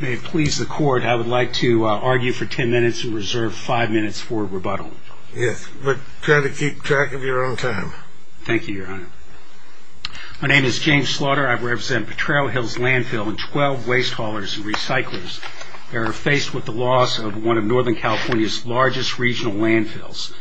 May it please the Court, I would like to argue for 10 minutes and reserve 5 minutes for rebuttal. Yes, but try to keep track of your own time. Thank you, Your Honor. My name is James Slaughter. I represent Pertrero Hills Landfill and 12 waste haulers and recyclers that are faced with the loss of one of Northern California's largest regional landfills.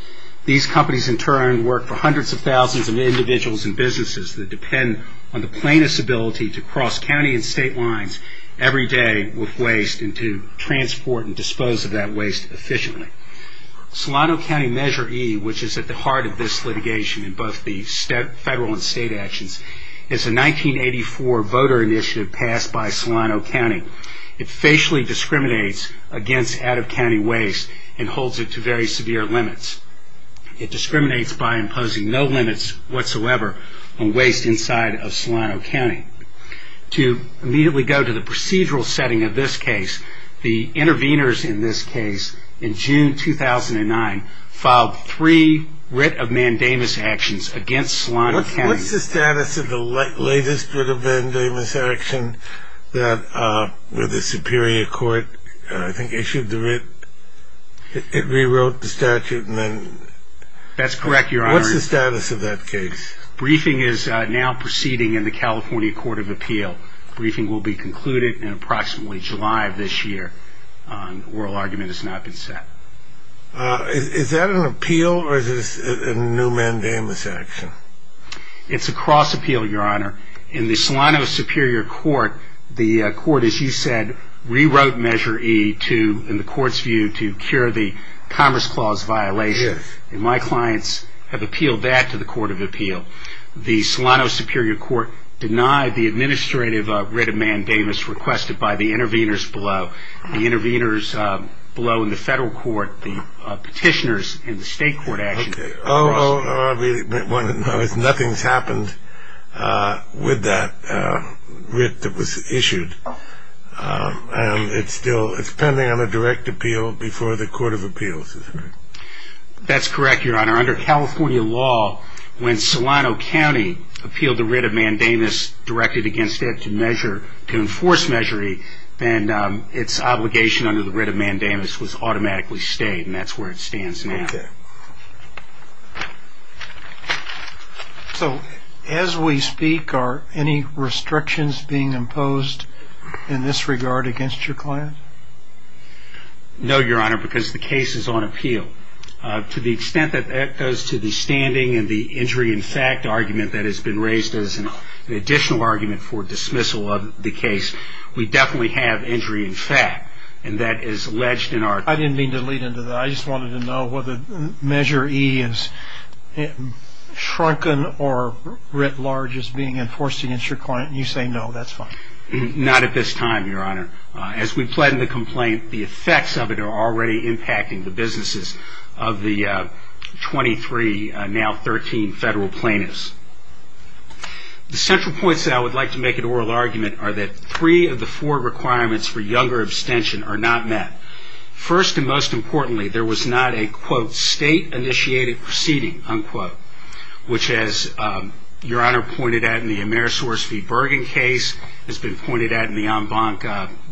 These companies, in turn, work for hundreds of thousands of individuals and businesses that depend on the plaintiff's ability to cross county and state lines every day with waste and to transport and dispose of that waste efficiently. Solano County Measure E, which is at the heart of this litigation in both the federal and state actions, is a 1984 voter initiative passed by Solano County. It facially discriminates against out-of-county waste and holds it to very severe limits. It discriminates by imposing no limits whatsoever on waste inside of Solano County. To immediately go to the procedural setting of this case, the intervenors in this case, in June 2009, filed three writ of mandamus actions against Solano County. What's the status of the latest writ of mandamus action that the Superior Court, I think, issued the writ? It rewrote the statute and then... That's correct, Your Honor. What's the status of that case? Briefing is now proceeding in the California Court of Appeal. Briefing will be concluded in approximately July of this year. Oral argument has not been set. Is that an appeal or is this a new mandamus action? It's a cross appeal, Your Honor. In the Solano Superior Court, the court, as you said, rewrote Measure E to, in the court's view, to cure the Commerce Clause violation. Yes. And my clients have appealed that to the Court of Appeal. The Solano Superior Court denied the administrative writ of mandamus requested by the intervenors below. The intervenors below in the federal court, the petitioners in the state court... Okay. Nothing's happened with that writ that was issued. It's pending on a direct appeal before the Court of Appeal. That's correct, Your Honor. Under California law, when Solano County appealed the writ of mandamus directed against it to enforce Measure E, then its obligation under the writ of mandamus was automatically stayed, and that's where it stands now. Okay. So as we speak, are any restrictions being imposed in this regard against your client? No, Your Honor, because the case is on appeal. To the extent that that goes to the standing and the injury in fact argument that has been raised as an additional argument for dismissal of the case, we definitely have injury in fact, and that is alleged in our... I didn't mean to lead into that. I just wanted to know whether Measure E is shrunken or writ large is being enforced against your client. You say no, that's fine. Not at this time, Your Honor. As we plan the complaint, the effects of it are already impacting the businesses of the 23, now 13, federal plaintiffs. The central points that I would like to make in oral argument are that three of the four requirements for younger abstention are not met. First and most importantly, there was not a, quote, state-initiated proceeding, unquote, which as Your Honor pointed out in the Amerisource v. Bergen case, has been pointed out in the En Banc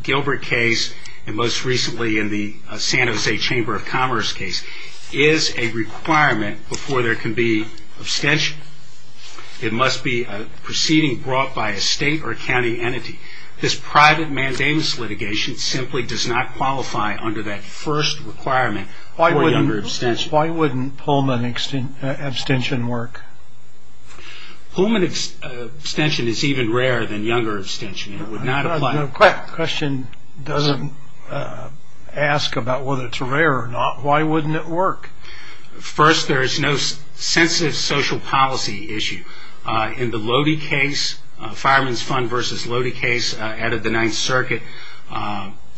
Gilbert case, and most recently in the San Jose Chamber of Commerce case, is a requirement before there can be abstention. It must be a proceeding brought by a state or county entity. This private mandamus litigation simply does not qualify under that first requirement for younger abstention. Why wouldn't Pullman abstention work? Pullman abstention is even rarer than younger abstention. It would not apply. The question doesn't ask about whether it's rare or not. Why wouldn't it work? First, there is no sensitive social policy issue. In the Lody case, Fireman's Fund v. Lody case out of the Ninth Circuit,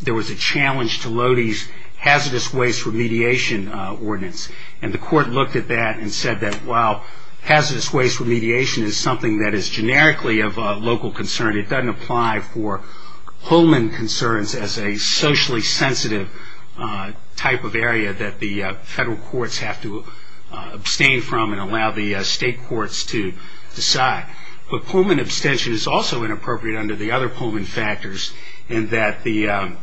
there was a challenge to Lody's hazardous waste remediation ordinance, and the court looked at that and said that while hazardous waste remediation is something that is generically of local concern, it doesn't apply for Pullman concerns as a socially sensitive type of area that the federal courts have to abstain from and allow the state courts to decide. But Pullman abstention is also inappropriate under the other Pullman factors, in that the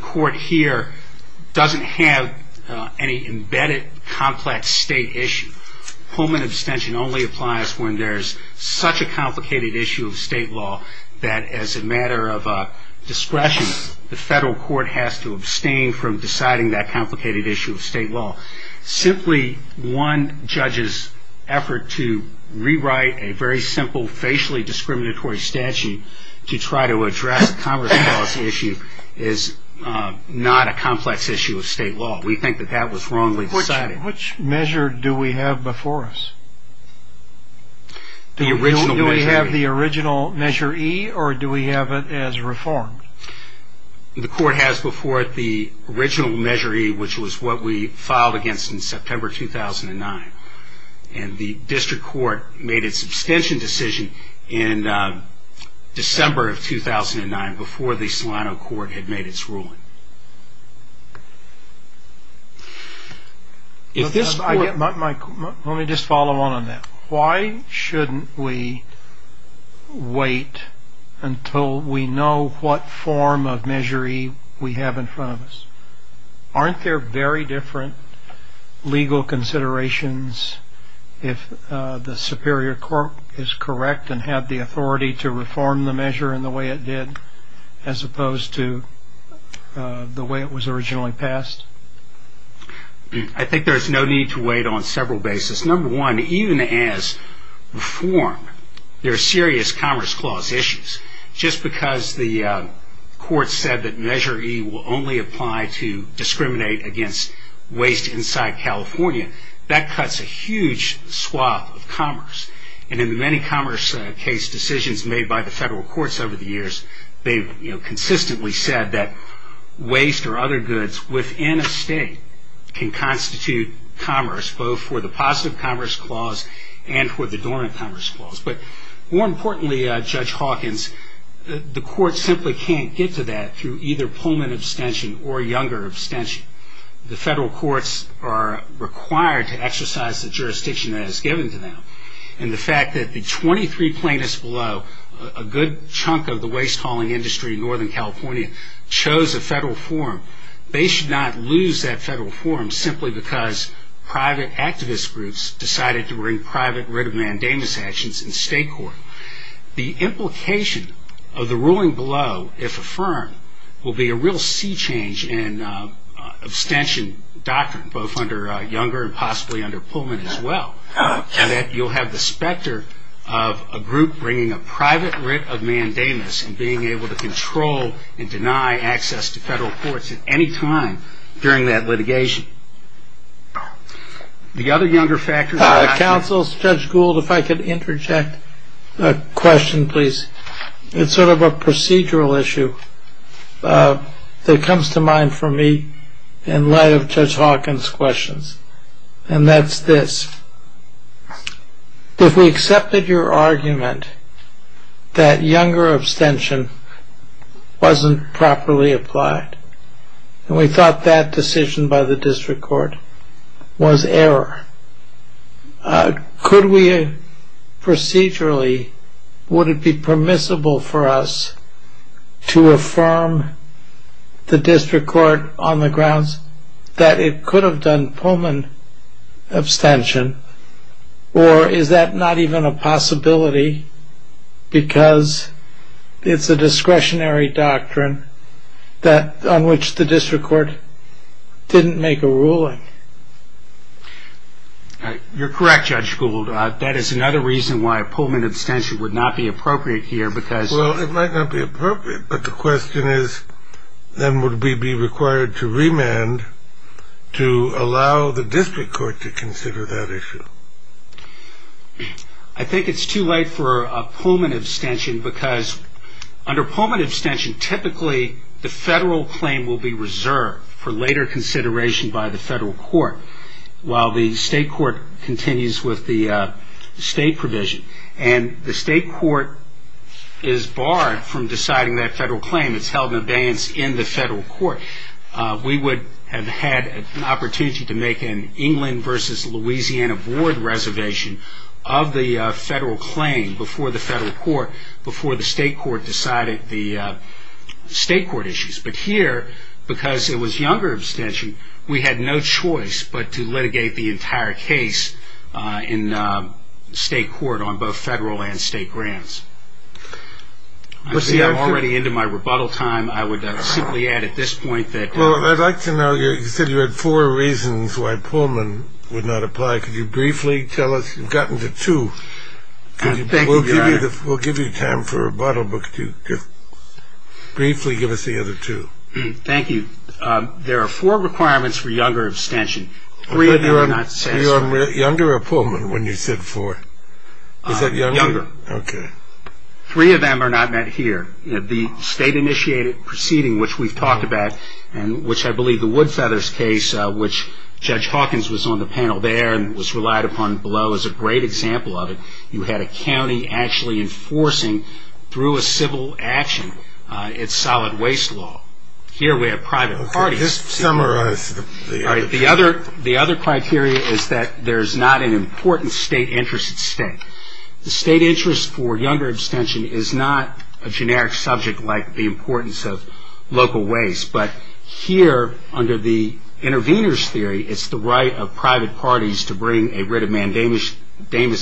court here doesn't have any embedded complex state issue. Pullman abstention only applies when there's such a complicated issue of state law that as a matter of discretion, the federal court has to abstain from deciding that complicated issue of state law. Simply one judge's effort to rewrite a very simple facially discriminatory statute to try to address Congress' policy issue is not a complex issue of state law. We think that that was wrongly decided. Which measure do we have before us? Do we have the original Measure E, or do we have it as reformed? The court has before it the original Measure E, which was what we filed against in September 2009, and the district court made its abstention decision in December of 2009 before the Solano court had made its ruling. Let me just follow on on that. Why shouldn't we wait until we know what form of Measure E we have in front of us? Aren't there very different legal considerations if the superior court is correct and had the authority to reform the measure in the way it did as opposed to the way it was originally passed? I think there's no need to wait on several bases. Number one, even as reform, there are serious Commerce Clause issues. Just because the court said that Measure E will only apply to discriminate against waste inside California, that cuts a huge swap of commerce. In the many commerce case decisions made by the federal courts over the years, they've consistently said that waste or other goods within a state can constitute commerce, both for the Positive Commerce Clause and for the Dormant Commerce Clause. More importantly, Judge Hawkins, the court simply can't get to that through either Pullman abstention or Younger abstention. The federal courts are required to exercise the jurisdiction that is given to them. And the fact that the 23 plaintiffs below, a good chunk of the waste hauling industry in Northern California, chose a federal forum, they should not lose that federal forum simply because private activist groups decided to bring private writ of mandamus actions in state court. The implication of the ruling below, if affirmed, will be a real sea change in abstention doctrine, both under Younger and possibly under Pullman as well, in that you'll have the specter of a group bringing a private writ of mandamus and being able to control and deny access to federal courts at any time during that litigation. The other Younger factors... Counsel, Judge Gould, if I could interject a question, please. It's sort of a procedural issue that comes to mind for me in light of Judge Hawkins' questions. And that's this. If we accepted your argument that Younger abstention wasn't properly applied and we thought that decision by the district court was error, could we procedurally, would it be permissible for us to affirm the district court on the grounds that it could have done Pullman abstention, or is that not even a possibility because it's a discretionary doctrine on which the district court didn't make a ruling? You're correct, Judge Gould. That is another reason why Pullman abstention would not be appropriate here because... Well, it might not be appropriate, but the question is, then would we be required to remand to allow the district court to consider that issue? I think it's too late for Pullman abstention because under Pullman abstention, typically the federal claim will be reserved for later consideration by the federal court, while the state court continues with the state provision. And the state court is barred from deciding that federal claim. It's held in abeyance in the federal court. We would have had an opportunity to make an England versus Louisiana board reservation of the federal claim before the state court decided the state court issues. But here, because it was younger abstention, we had no choice but to litigate the entire case in state court on both federal and state grants. I'm already into my rebuttal time. I would simply add at this point that... Well, I'd like to know, you said you had four reasons why Pullman would not apply. Could you briefly tell us, you've gotten to two. We'll give you time for a bottle book to briefly give us the other two. Thank you. There are four requirements for younger abstention. Three of them are not... Were you on younger or Pullman when you said four? Is that younger? Younger. Okay. Three of them are not met here. The state-initiated proceeding, which we've talked about, and which I believe the Woodfeathers case, which Judge Hawkins was on the panel there and was relied upon below as a great example of it, you had a county actually enforcing, through a civil action, its solid waste law. Here we have private parties. Okay. Just summarize the... All right. The other criteria is that there's not an important state interest at stake. The state interest for younger abstention is not a generic subject like the importance of local waste. But here, under the intervener's theory, it's the right of private parties to bring a writ of mandamus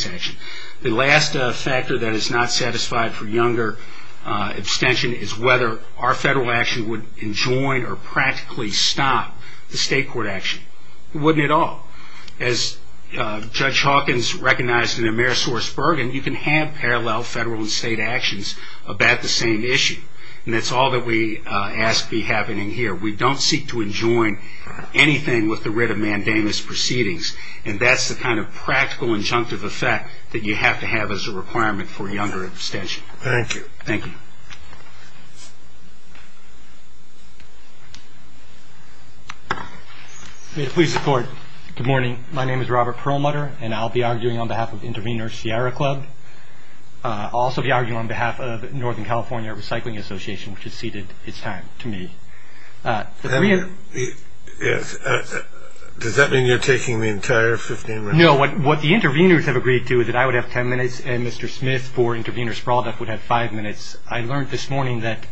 action. The last factor that is not satisfied for younger abstention is whether our federal action would enjoin or practically stop the state court action. It wouldn't at all. As Judge Hawkins recognized in the Amerisource Bergen, you can have parallel federal and state actions about the same issue. And that's all that we ask be happening here. We don't seek to enjoin anything with the writ of mandamus proceedings, and that's the kind of practical injunctive effect that you have to have as a requirement for younger abstention. Thank you. Thank you. May it please the Court. Good morning. My name is Robert Perlmutter, and I'll be arguing on behalf of Intervener Sierra Club. I'll also be arguing on behalf of Northern California Recycling Association, which has ceded its time to me. Does that mean you're taking the entire 15 minutes? No. What the interveners have agreed to is that I would have 10 minutes, and Mr. Smith for Intervener Sprawl Deaf would have five minutes. I learned this morning that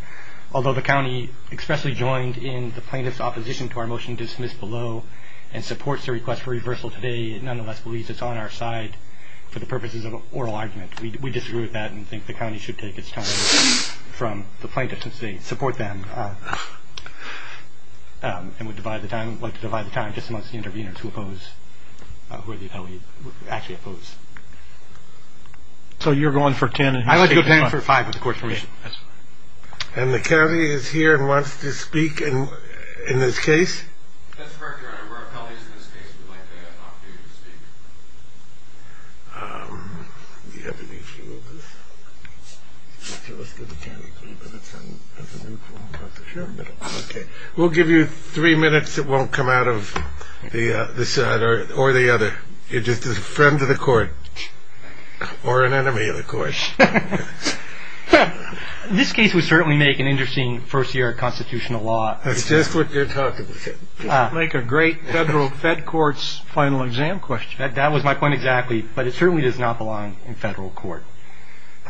although the county expressly joined in the plaintiff's opposition to our motion dismissed below and supports the request for reversal today, it nonetheless believes it's on our side for the purposes of oral argument. We disagree with that and think the county should take its time from the plaintiff to support them. And we'd like to divide the time just amongst the interveners who oppose, who are actually opposed. So you're going for 10 and he's taking five? I'd like to go down for five with the Court's permission. And the county is here and wants to speak in this case? That's correct, Your Honor. We're appellees in this case. We'd like the opportunity to speak. Do you have any view of this? Okay, let's go to 10. We'll give you three minutes that won't come out of this side or the other. You're just a friend of the Court. Or an enemy of the Court. This case would certainly make an interesting first year of constitutional law. That's just what you're talking about. Like a great federal fed court's final exam question. That was my point exactly, but it certainly does not belong in federal court.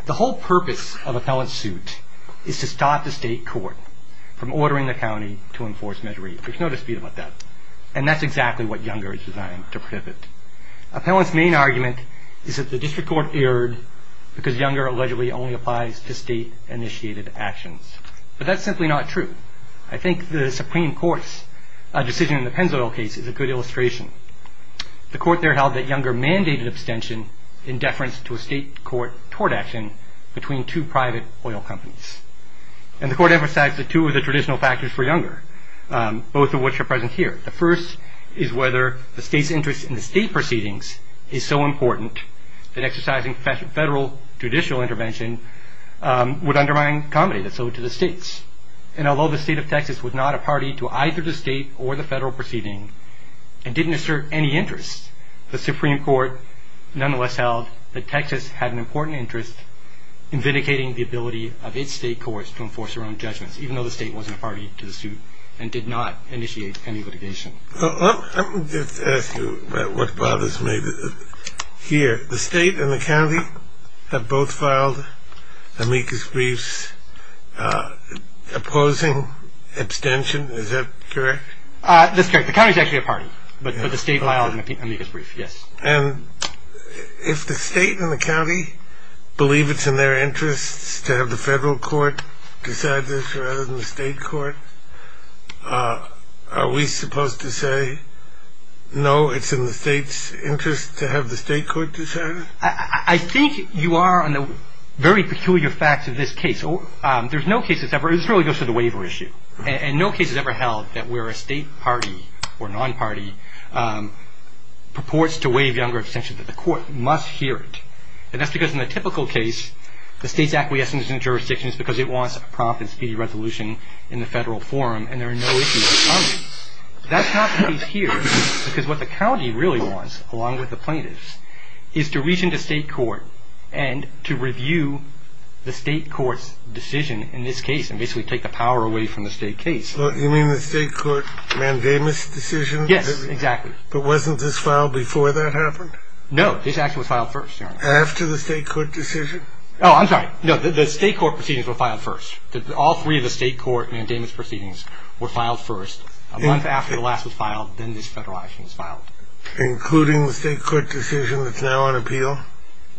The whole purpose of appellant suit is to stop the state court from ordering the county to enforce Measure 8. There's no dispute about that. And that's exactly what Younger is designed to prevent. Appellant's main argument is that the district court erred because Younger allegedly only applies to state-initiated actions. But that's simply not true. I think the Supreme Court's decision in the Pennzoil case is a good illustration. The Court there held that Younger mandated abstention in deference to a state court tort action between two private oil companies. And the Court emphasized the two of the traditional factors for Younger, both of which are present here. The first is whether the state's interest in the state proceedings is so important that exercising federal judicial intervention would undermine comedy. That's owed to the states. And although the state of Texas was not a party to either the state or the federal proceeding and didn't assert any interest, the Supreme Court nonetheless held that Texas had an important interest in vindicating the ability of its state courts to enforce their own judgments, even though the state wasn't a party to the suit and did not initiate any litigation. Let me just ask you about what bothers me here. The state and the county have both filed amicus briefs opposing abstention. Is that correct? That's correct. The county's actually a party, but the state filed an amicus brief, yes. And if the state and the county believe it's in their interests to have the federal court decide this rather than the state court, are we supposed to say, no, it's in the state's interest to have the state court decide it? I think you are on the very peculiar facts of this case. There's no case that's ever – this really goes to the waiver issue. And no case has ever held that where a state party or non-party purports to waive Younger abstention, that the court must hear it. And that's because in the typical case, the state's acquiescence in the jurisdiction is because it wants a prompt and speedy resolution in the federal forum, and there are no issues with the county. That's not the case here, because what the county really wants, along with the plaintiffs, is to reach into state court and to review the state court's decision in this case and basically take the power away from the state case. You mean the state court mandamus decision? Yes, exactly. But wasn't this filed before that happened? No, this action was filed first, Your Honor. After the state court decision? Oh, I'm sorry. No, the state court proceedings were filed first. All three of the state court mandamus proceedings were filed first, a month after the last was filed, then this federal action was filed. Including the state court decision that's now on appeal?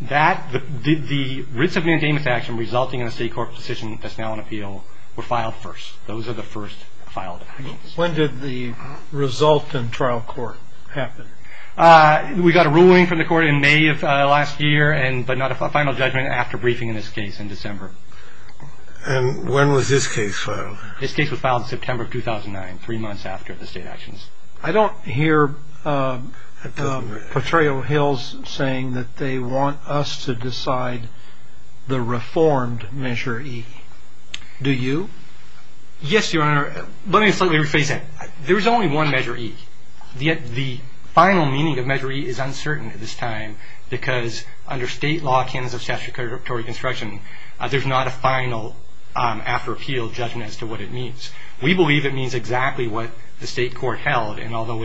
That – the writs of mandamus action resulting in a state court decision that's now on appeal were filed first. Those are the first filed actions. When did the result in trial court happen? We got a ruling from the court in May of last year, but not a final judgment after briefing in this case in December. And when was this case filed? This case was filed in September of 2009, three months after the state actions. I don't hear Petraeo Hills saying that they want us to decide the reformed Measure E. Do you? Yes, Your Honor. Let me slightly rephrase that. There's only one Measure E. The final meaning of Measure E is uncertain at this time because under state law, canons of statutory construction, there's not a final after appeal judgment as to what it means. We believe it means exactly what the state court held. And although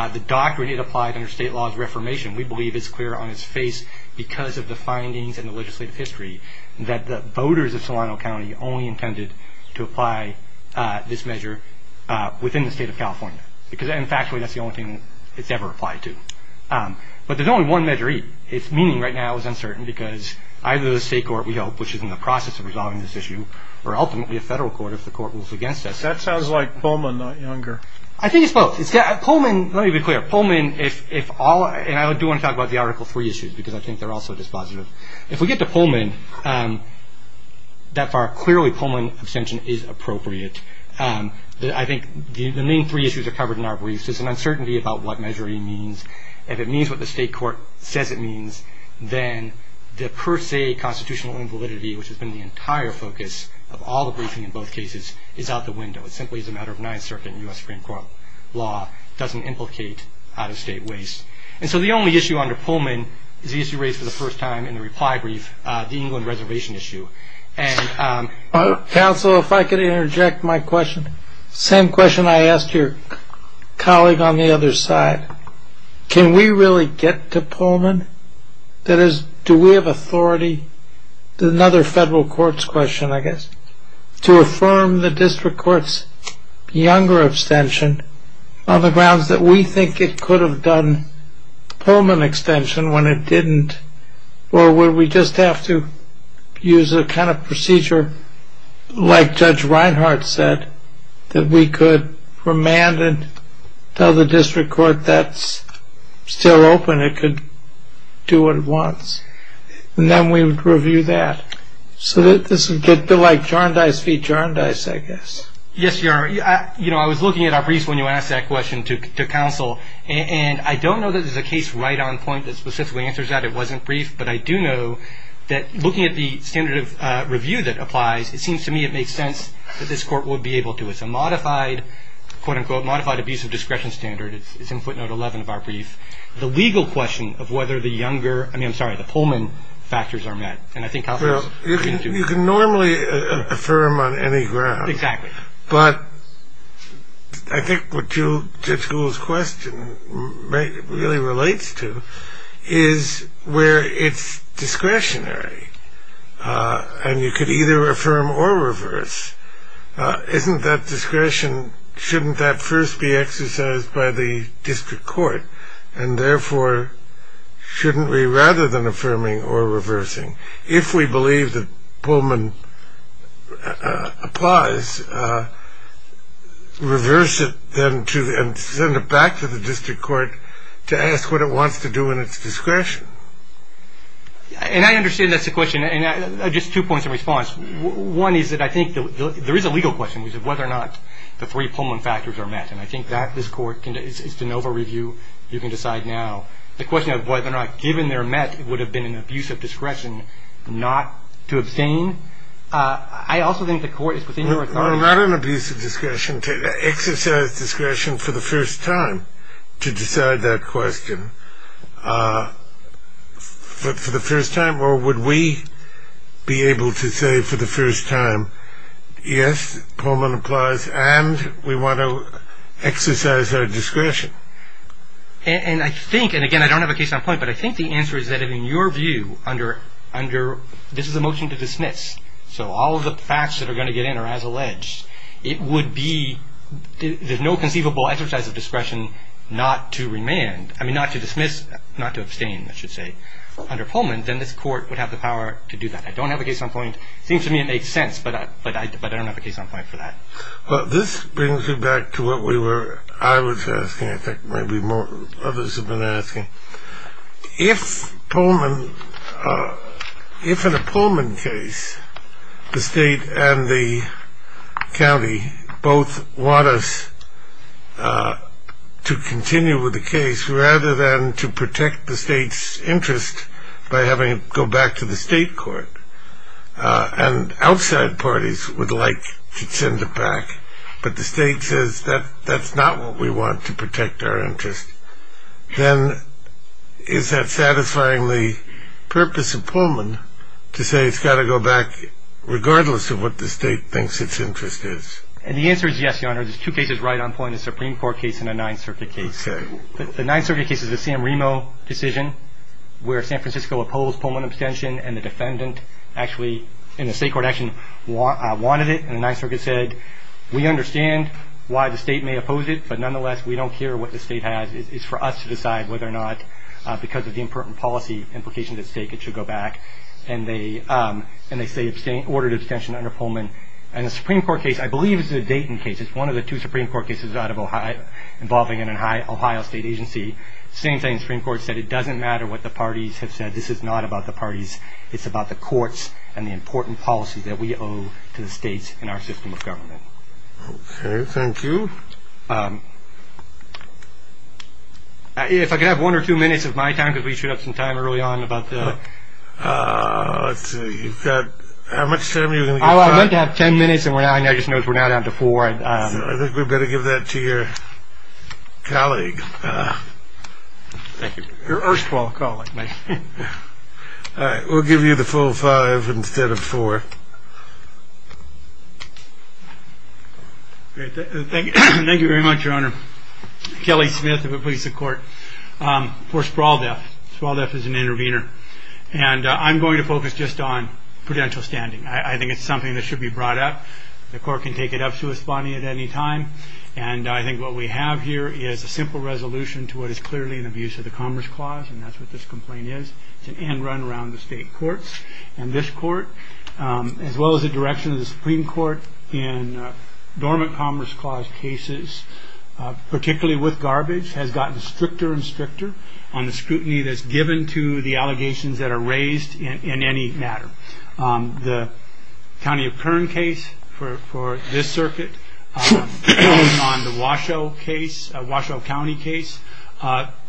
the doctrine it applied under state law is reformation, we believe it's clear on its face because of the findings and the legislative history that the voters of Solano County only intended to apply this measure within the state of California. Because, in fact, that's the only thing it's ever applied to. But there's only one Measure E. Its meaning right now is uncertain because either the state court, we hope, which is in the process of resolving this issue, or ultimately a federal court if the court rules against us. That sounds like Pullman, not Younger. I think it's both. Pullman, let me be clear. Pullman, and I do want to talk about the Article III issues because I think they're also dispositive. If we get to Pullman that far, clearly Pullman abstention is appropriate. I think the main three issues are covered in our briefs. There's an uncertainty about what Measure E means. If it means what the state court says it means, then the per se constitutional invalidity, which has been the entire focus of all the briefing in both cases, is out the window. It simply is a matter of Ninth Circuit and U.S. Supreme Court law. It doesn't implicate out-of-state waste. And so the only issue under Pullman is the issue raised for the first time in the reply brief, the England reservation issue. Counsel, if I could interject my question. Same question I asked your colleague on the other side. Can we really get to Pullman? That is, do we have authority, another federal court's question I guess, to affirm the district court's younger abstention on the grounds that we think it could have done Pullman abstention when it didn't? Or would we just have to use a kind of procedure like Judge Reinhart said, that we could remand and tell the district court that's still open, it could do what it wants. And then we would review that. So this would be like Jarndyce v. Jarndyce, I guess. Yes, Your Honor. You know, I was looking at our briefs when you asked that question to counsel. And I don't know that there's a case right on point that specifically answers that. It wasn't brief. But I do know that looking at the standard of review that applies, it seems to me it makes sense that this court would be able to. It's a modified, quote-unquote, modified abuse of discretion standard. It's in footnote 11 of our brief. The legal question of whether the younger, I mean, I'm sorry, the Pullman factors are met. You can normally affirm on any ground. Exactly. But I think what Judge Gould's question really relates to is where it's discretionary. And you could either affirm or reverse. Isn't that discretion, shouldn't that first be exercised by the district court? And therefore, shouldn't we, rather than affirming or reversing, if we believe that Pullman applies, reverse it then and send it back to the district court to ask what it wants to do in its discretion? And I understand that's the question. And just two points of response. One is that I think there is a legal question as to whether or not the three Pullman factors are met. And I think that this court can, it's de novo review. You can decide now. The question of whether or not given they're met, it would have been an abuse of discretion not to abstain. I also think the court is within your authority. Well, not an abuse of discretion. Exercise discretion for the first time to decide that question. For the first time, or would we be able to say for the first time, yes, Pullman applies and we want to exercise our discretion? And I think, and again, I don't have a case on point, but I think the answer is that in your view under, this is a motion to dismiss, so all of the facts that are going to get in are as alleged. It would be, there's no conceivable exercise of discretion not to remand, I mean not to dismiss, not to abstain, I should say, under Pullman, then this court would have the power to do that. I don't have a case on point. It seems to me it makes sense, but I don't have a case on point for that. Well, this brings me back to what we were, I was asking, I think maybe others have been asking. If Pullman, if in a Pullman case the state and the county both want us to continue with the case rather than to protect the state's interest by having it go back to the state court and outside parties would like to send it back, but the state says that that's not what we want to protect our interest, then is that satisfying the purpose of Pullman to say it's got to go back regardless of what the state thinks its interest is? And the answer is yes, Your Honor. There's two cases right on point, a Supreme Court case and a Ninth Circuit case. The Ninth Circuit case is the Sam Remo decision where San Francisco opposed Pullman abstention and the defendant actually in the state court action wanted it. And the Ninth Circuit said we understand why the state may oppose it, but nonetheless we don't care what the state has. It's for us to decide whether or not because of the important policy implications at stake it should go back. And they say ordered abstention under Pullman. And the Supreme Court case I believe is a Dayton case. It's one of the two Supreme Court cases involving an Ohio state agency. Same thing, the Supreme Court said it doesn't matter what the parties have said. This is not about the parties. It's about the courts and the important policies that we owe to the states in our system of government. Okay. Thank you. If I could have one or two minutes of my time because we showed up some time early on about the... Let's see. You've got how much time? I meant to have ten minutes and I just noticed we're now down to four. I think we'd better give that to your colleague. Thank you. Your erstwhile colleague. All right. We'll give you the full five instead of four. Thank you very much, Your Honor. Kelly Smith of the Police and Court. For Sprawl Death. Sprawl Death is an intervener. And I'm going to focus just on prudential standing. I think it's something that should be brought up. The court can take it up to his body at any time. And I think what we have here is a simple resolution to what is clearly an abuse of the Commerce Clause. And that's what this complaint is. It's an end run around the state courts. And this court, as well as the direction of the Supreme Court in dormant Commerce Clause cases, particularly with garbage, has gotten stricter and stricter on the scrutiny that's given to the allegations that are raised in any matter. The county of Kern case for this circuit on the Washoe case, Washoe County case,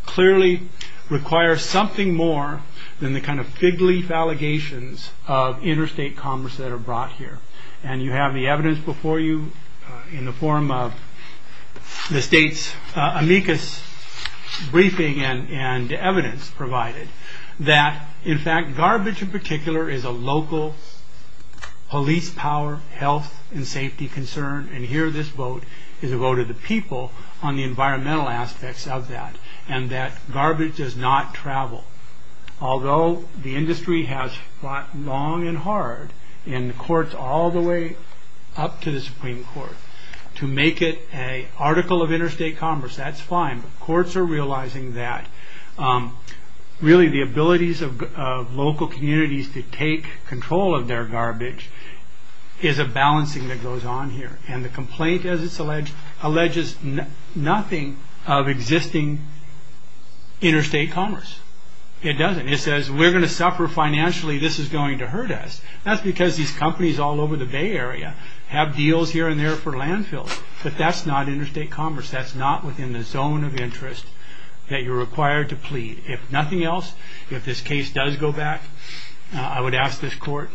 clearly requires something more than the kind of fig leaf allegations of interstate commerce that are brought here. And you have the evidence before you in the form of the state's amicus briefing and evidence provided that, in fact, garbage in particular is a local police power, health and safety concern. And here this vote is a vote of the people on the environmental aspects of that and that garbage does not travel. Although the industry has fought long and hard in courts all the way up to the Supreme Court to make it a article of interstate commerce, that's fine. But courts are realizing that really the abilities of local communities to take control of their garbage is a balancing that goes on here. And the complaint, as it's alleged, alleges nothing of existing interstate commerce. It doesn't. It says we're going to suffer financially. This is going to hurt us. That's because these companies all over the Bay Area have deals here and there for landfills. But that's not interstate commerce. That's not within the zone of interest that you're required to plead. If nothing else, if this case does go back, I would ask this court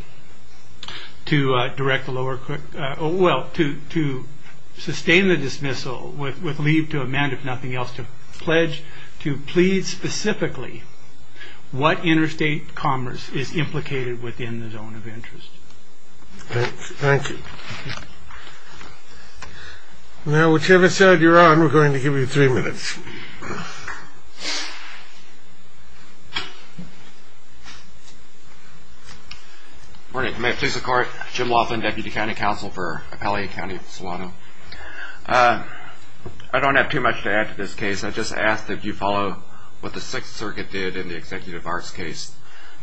to direct the lower court, well, to sustain the dismissal with leave to amend, if nothing else, to pledge to plead specifically what interstate commerce is implicated within the zone of interest. Thank you. Now, whichever side you're on, we're going to give you three minutes. Good morning. May it please the Court. Jim Laughlin, Deputy County Counsel for Appalachia County, Solano. I don't have too much to add to this case. I just ask that you follow what the Sixth Circuit did in the Executive Arts case.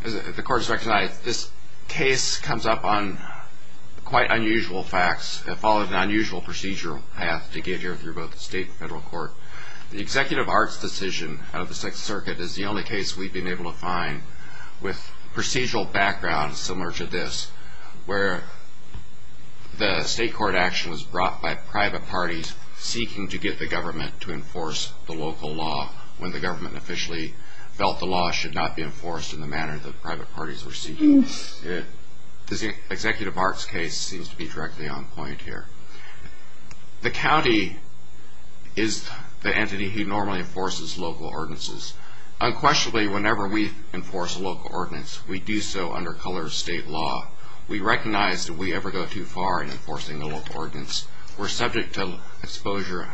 As the Court has recognized, this case comes up on quite unusual facts. It followed an unusual procedural path to get here through both the state and federal court. The Executive Arts decision out of the Sixth Circuit is the only case we've been able to find with procedural background similar to this, where the state court action was brought by private parties seeking to get the government to enforce the local law when the government officially felt the law should not be enforced in the manner that private parties were seeking. The Executive Arts case seems to be directly on point here. The county is the entity who normally enforces local ordinances. Unquestionably, whenever we enforce a local ordinance, we do so under color of state law. We recognize that we ever go too far in enforcing the local ordinance. We're subject to exposure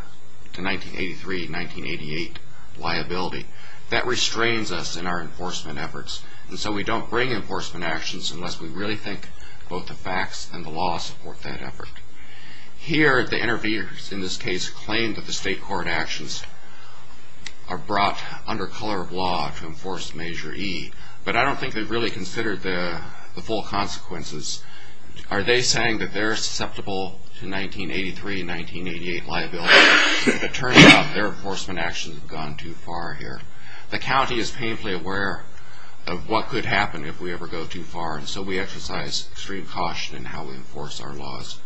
to 1983-1988 liability. That restrains us in our enforcement efforts. So we don't bring enforcement actions unless we really think both the facts and the law support that effort. Here, the interviewers in this case claim that the state court actions are brought under color of law to enforce Measure E, but I don't think they've really considered the full consequences. Are they saying that they're susceptible to 1983-1988 liability? It turns out their enforcement actions have gone too far here. The county is painfully aware of what could happen if we ever go too far, and so we exercise extreme caution in how we enforce our laws.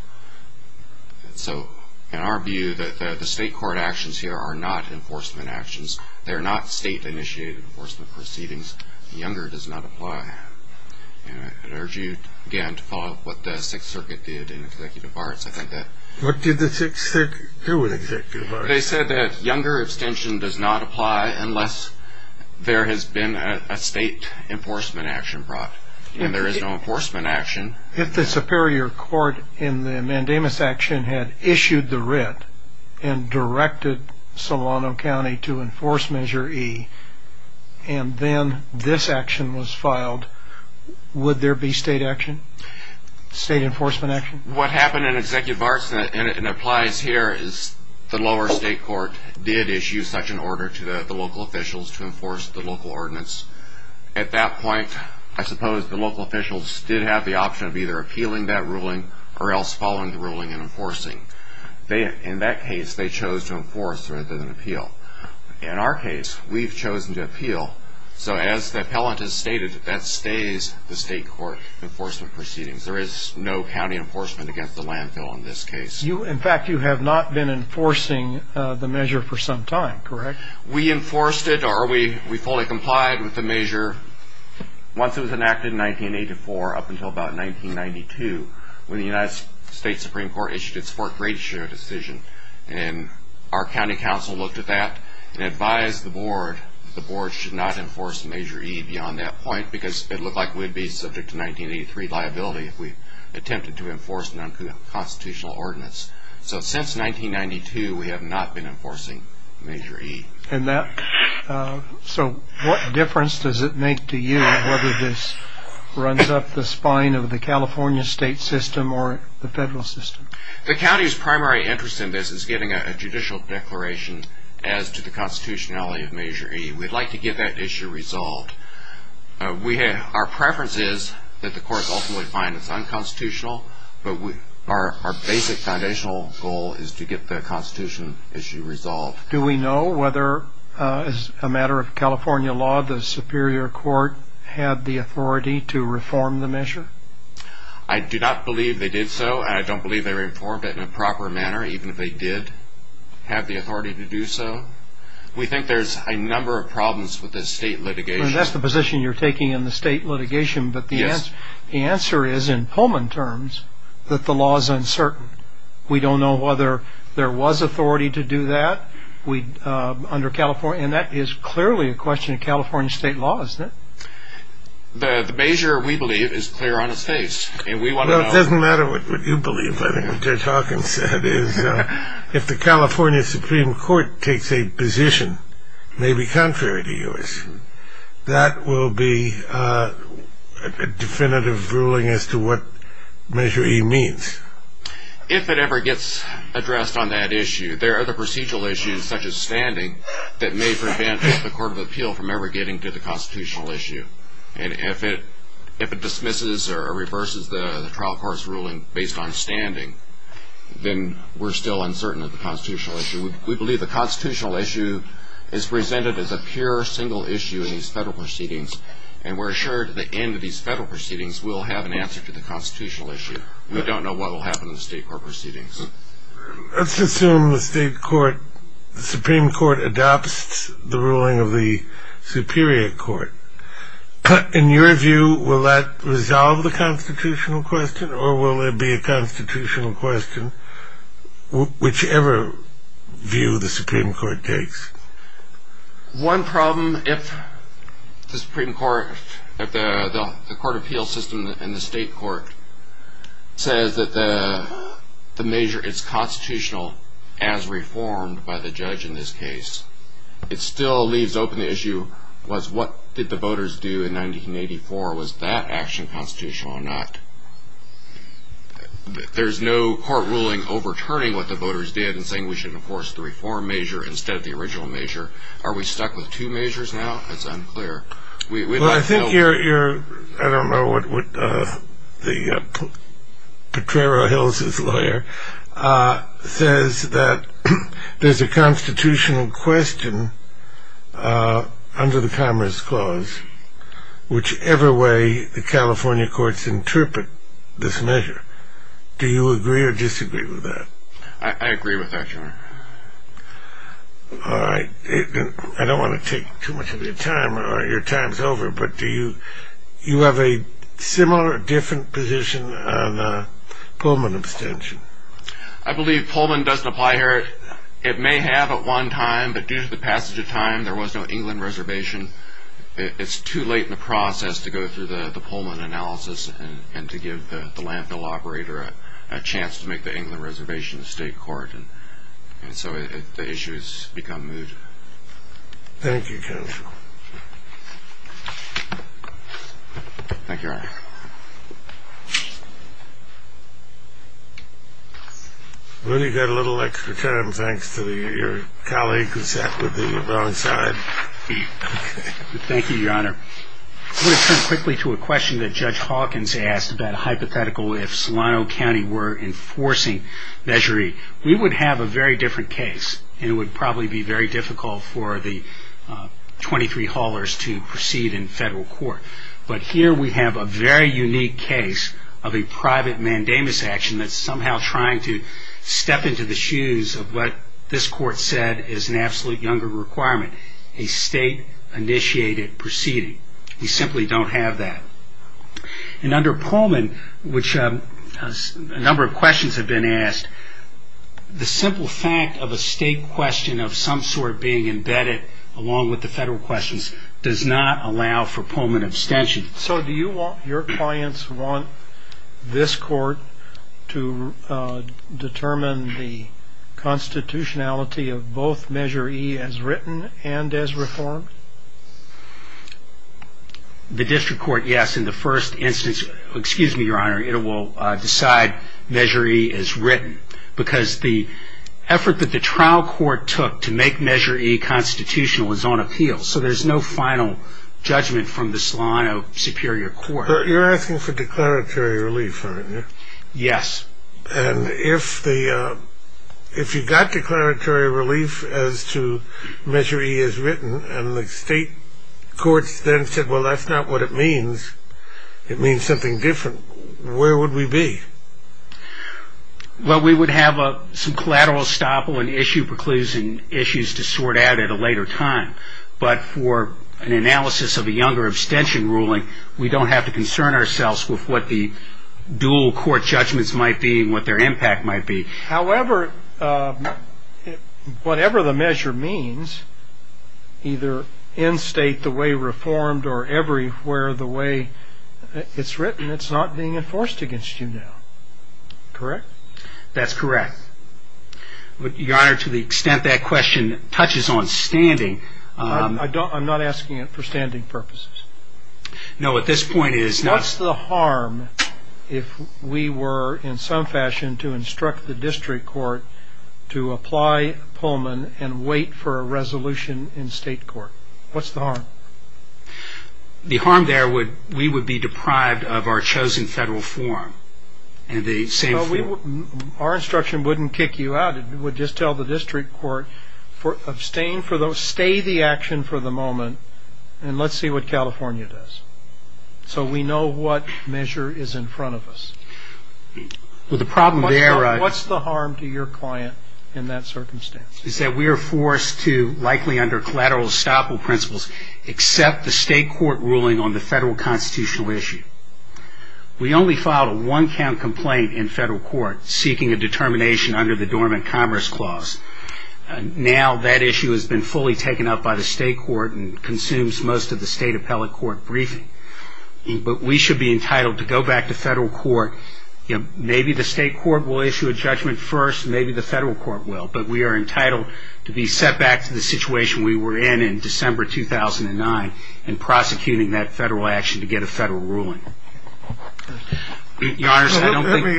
So in our view, the state court actions here are not enforcement actions. They're not state-initiated enforcement proceedings. Younger does not apply. I'd urge you, again, to follow up what the Sixth Circuit did in executive arts. What did the Sixth Circuit do in executive arts? They said that younger abstention does not apply unless there has been a state enforcement action brought, and there is no enforcement action. If the superior court in the Mandamus action had issued the writ and directed Solano County to enforce Measure E and then this action was filed, would there be state enforcement action? What happened in executive arts, and it applies here, is the lower state court did issue such an order to the local officials to enforce the local ordinance. At that point, I suppose the local officials did have the option of either appealing that ruling or else following the ruling and enforcing. In that case, they chose to enforce rather than appeal. In our case, we've chosen to appeal. So as the appellant has stated, that stays the state court enforcement proceedings. There is no county enforcement against the landfill in this case. In fact, you have not been enforcing the measure for some time, correct? We enforced it, or we fully complied with the measure once it was enacted in 1984 up until about 1992 when the United States Supreme Court issued its fourth greatest share decision. Our county council looked at that and advised the board that the board should not enforce Measure E beyond that point because it looked like we would be subject to 1983 liability if we attempted to enforce a non-constitutional ordinance. So since 1992, we have not been enforcing Measure E. So what difference does it make to you whether this runs up the spine of the California state system or the federal system? The county's primary interest in this is getting a judicial declaration as to the constitutionality of Measure E. We'd like to get that issue resolved. Our preference is that the courts ultimately find it's unconstitutional, but our basic foundational goal is to get the constitution issue resolved. Do we know whether, as a matter of California law, the Superior Court had the authority to reform the measure? I do not believe they did so, and I don't believe they reformed it in a proper manner, even if they did have the authority to do so. We think there's a number of problems with the state litigation. That's the position you're taking in the state litigation, but the answer is, in Pullman terms, that the law is uncertain. We don't know whether there was authority to do that under California, and that is clearly a question of California state law, isn't it? The measure, we believe, is clear on its face. It doesn't matter what you believe. I think what Judge Hawkins said is, if the California Supreme Court takes a position maybe contrary to yours, that will be a definitive ruling as to what Measure E means. If it ever gets addressed on that issue, there are other procedural issues, such as standing, that may prevent the Court of Appeal from ever getting to the constitutional issue. And if it dismisses or reverses the trial court's ruling based on standing, then we're still uncertain of the constitutional issue. We believe the constitutional issue is presented as a pure single issue in these federal proceedings, and we're assured at the end of these federal proceedings we'll have an answer to the constitutional issue. But we don't know what will happen in the state court proceedings. Let's assume the Supreme Court adopts the ruling of the Superior Court. In your view, will that resolve the constitutional question, or will it be a constitutional question, whichever view the Supreme Court takes? One problem, if the Supreme Court, if the Court of Appeal system and the state court says that the measure is constitutional as reformed by the judge in this case, it still leaves open the issue of what did the voters do in 1984. Was that action constitutional or not? There's no court ruling overturning what the voters did in saying we should enforce the reform measure instead of the original measure. Are we stuck with two measures now? That's unclear. Well, I think you're, I don't know what, the Potrero Hills' lawyer says that there's a constitutional question under the Commerce Clause, whichever way the California courts interpret this measure. Do you agree or disagree with that? I agree with that, Your Honor. All right. I don't want to take too much of your time, or your time's over, but do you have a similar or different position on the Pullman abstention? I believe Pullman doesn't apply here. It may have at one time, but due to the passage of time, there was no England reservation. It's too late in the process to go through the Pullman analysis and to give the landfill operator a chance to make the England reservation a state court, and so the issue has become moot. Thank you, counsel. Thank you, Your Honor. We've only got a little extra time, thanks to your colleague who sat with the wrong side. Thank you, Your Honor. I want to turn quickly to a question that Judge Hawkins asked about a hypothetical if Solano County were enforcing Measure E. We would have a very different case, and it would probably be very difficult for the 23 haulers to proceed in federal court, but here we have a very unique case of a private mandamus action that's somehow trying to step into the shoes of what this court said is an absolute younger requirement, a state-initiated proceeding. We simply don't have that. And under Pullman, which a number of questions have been asked, the simple fact of a state question of some sort being embedded along with the federal questions does not allow for Pullman abstention. So do your clients want this court to determine the constitutionality of both Measure E as written and as reformed? The district court, yes. In the first instance, excuse me, Your Honor, it will decide Measure E as written because the effort that the trial court took to make Measure E constitutional is on appeal, so there's no final judgment from the Solano Superior Court. But you're asking for declaratory relief, aren't you? Yes. And if you got declaratory relief as to Measure E as written, and the state courts then said, well, that's not what it means, it means something different, where would we be? Well, we would have some collateral estoppel and issue preclusions to sort out at a later time. But for an analysis of a younger abstention ruling, we don't have to concern ourselves with what the dual court judgments might be and what their impact might be. However, whatever the measure means, either in state the way reformed or everywhere the way it's written, it's not being enforced against you now. Correct? That's correct. Your Honor, to the extent that question touches on standing. I'm not asking it for standing purposes. No, at this point it is not. What's the harm if we were in some fashion to instruct the district court to apply Pullman and wait for a resolution in state court? What's the harm? The harm there would be we would be deprived of our chosen federal form. Our instruction wouldn't kick you out, it would just tell the district court, stay the action for the moment and let's see what California does. So we know what measure is in front of us. What's the harm to your client in that circumstance? The harm is that we are forced to, likely under collateral estoppel principles, accept the state court ruling on the federal constitutional issue. We only filed a one-count complaint in federal court seeking a determination under the Dormant Commerce Clause. Now that issue has been fully taken up by the state court and consumes most of the state appellate court briefing. But we should be entitled to go back to federal court. Maybe the state court will issue a judgment first, maybe the federal court will, but we are entitled to be set back to the situation we were in in December 2009 and prosecuting that federal action to get a federal ruling. Let me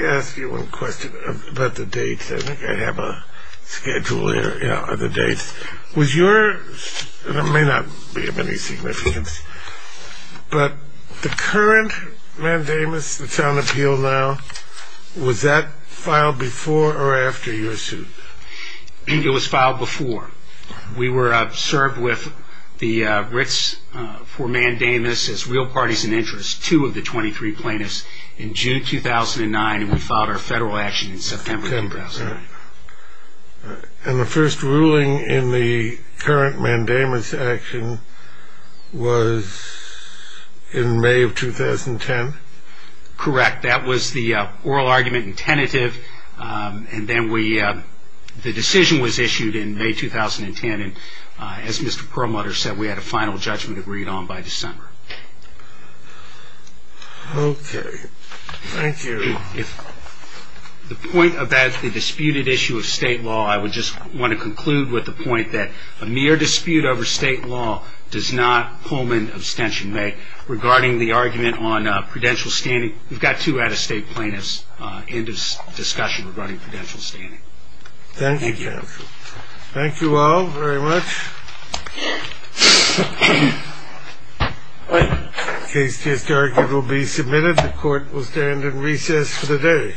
ask you one question about the dates. I think I have a schedule here of the dates. Was your, and it may not be of any significance, but the current mandamus that's on appeal now, was that filed before or after your suit? It was filed before. We were served with the writs for mandamus as real parties in interest, two of the 23 plaintiffs, in June 2009, and we filed our federal action in September 2009. And the first ruling in the current mandamus action was in May of 2010? Correct. That was the oral argument and tentative, and then the decision was issued in May 2010, and as Mr. Perlmutter said, we had a final judgment agreed on by December. Okay. Thank you. If the point about the disputed issue of state law, I would just want to conclude with the point that a mere dispute over state law does not pull an abstention. Regarding the argument on prudential standing, we've got two out-of-state plaintiffs in this discussion regarding prudential standing. Thank you. Thank you all very much. The case is directed to be submitted. The court will stand in recess for the day. All rise.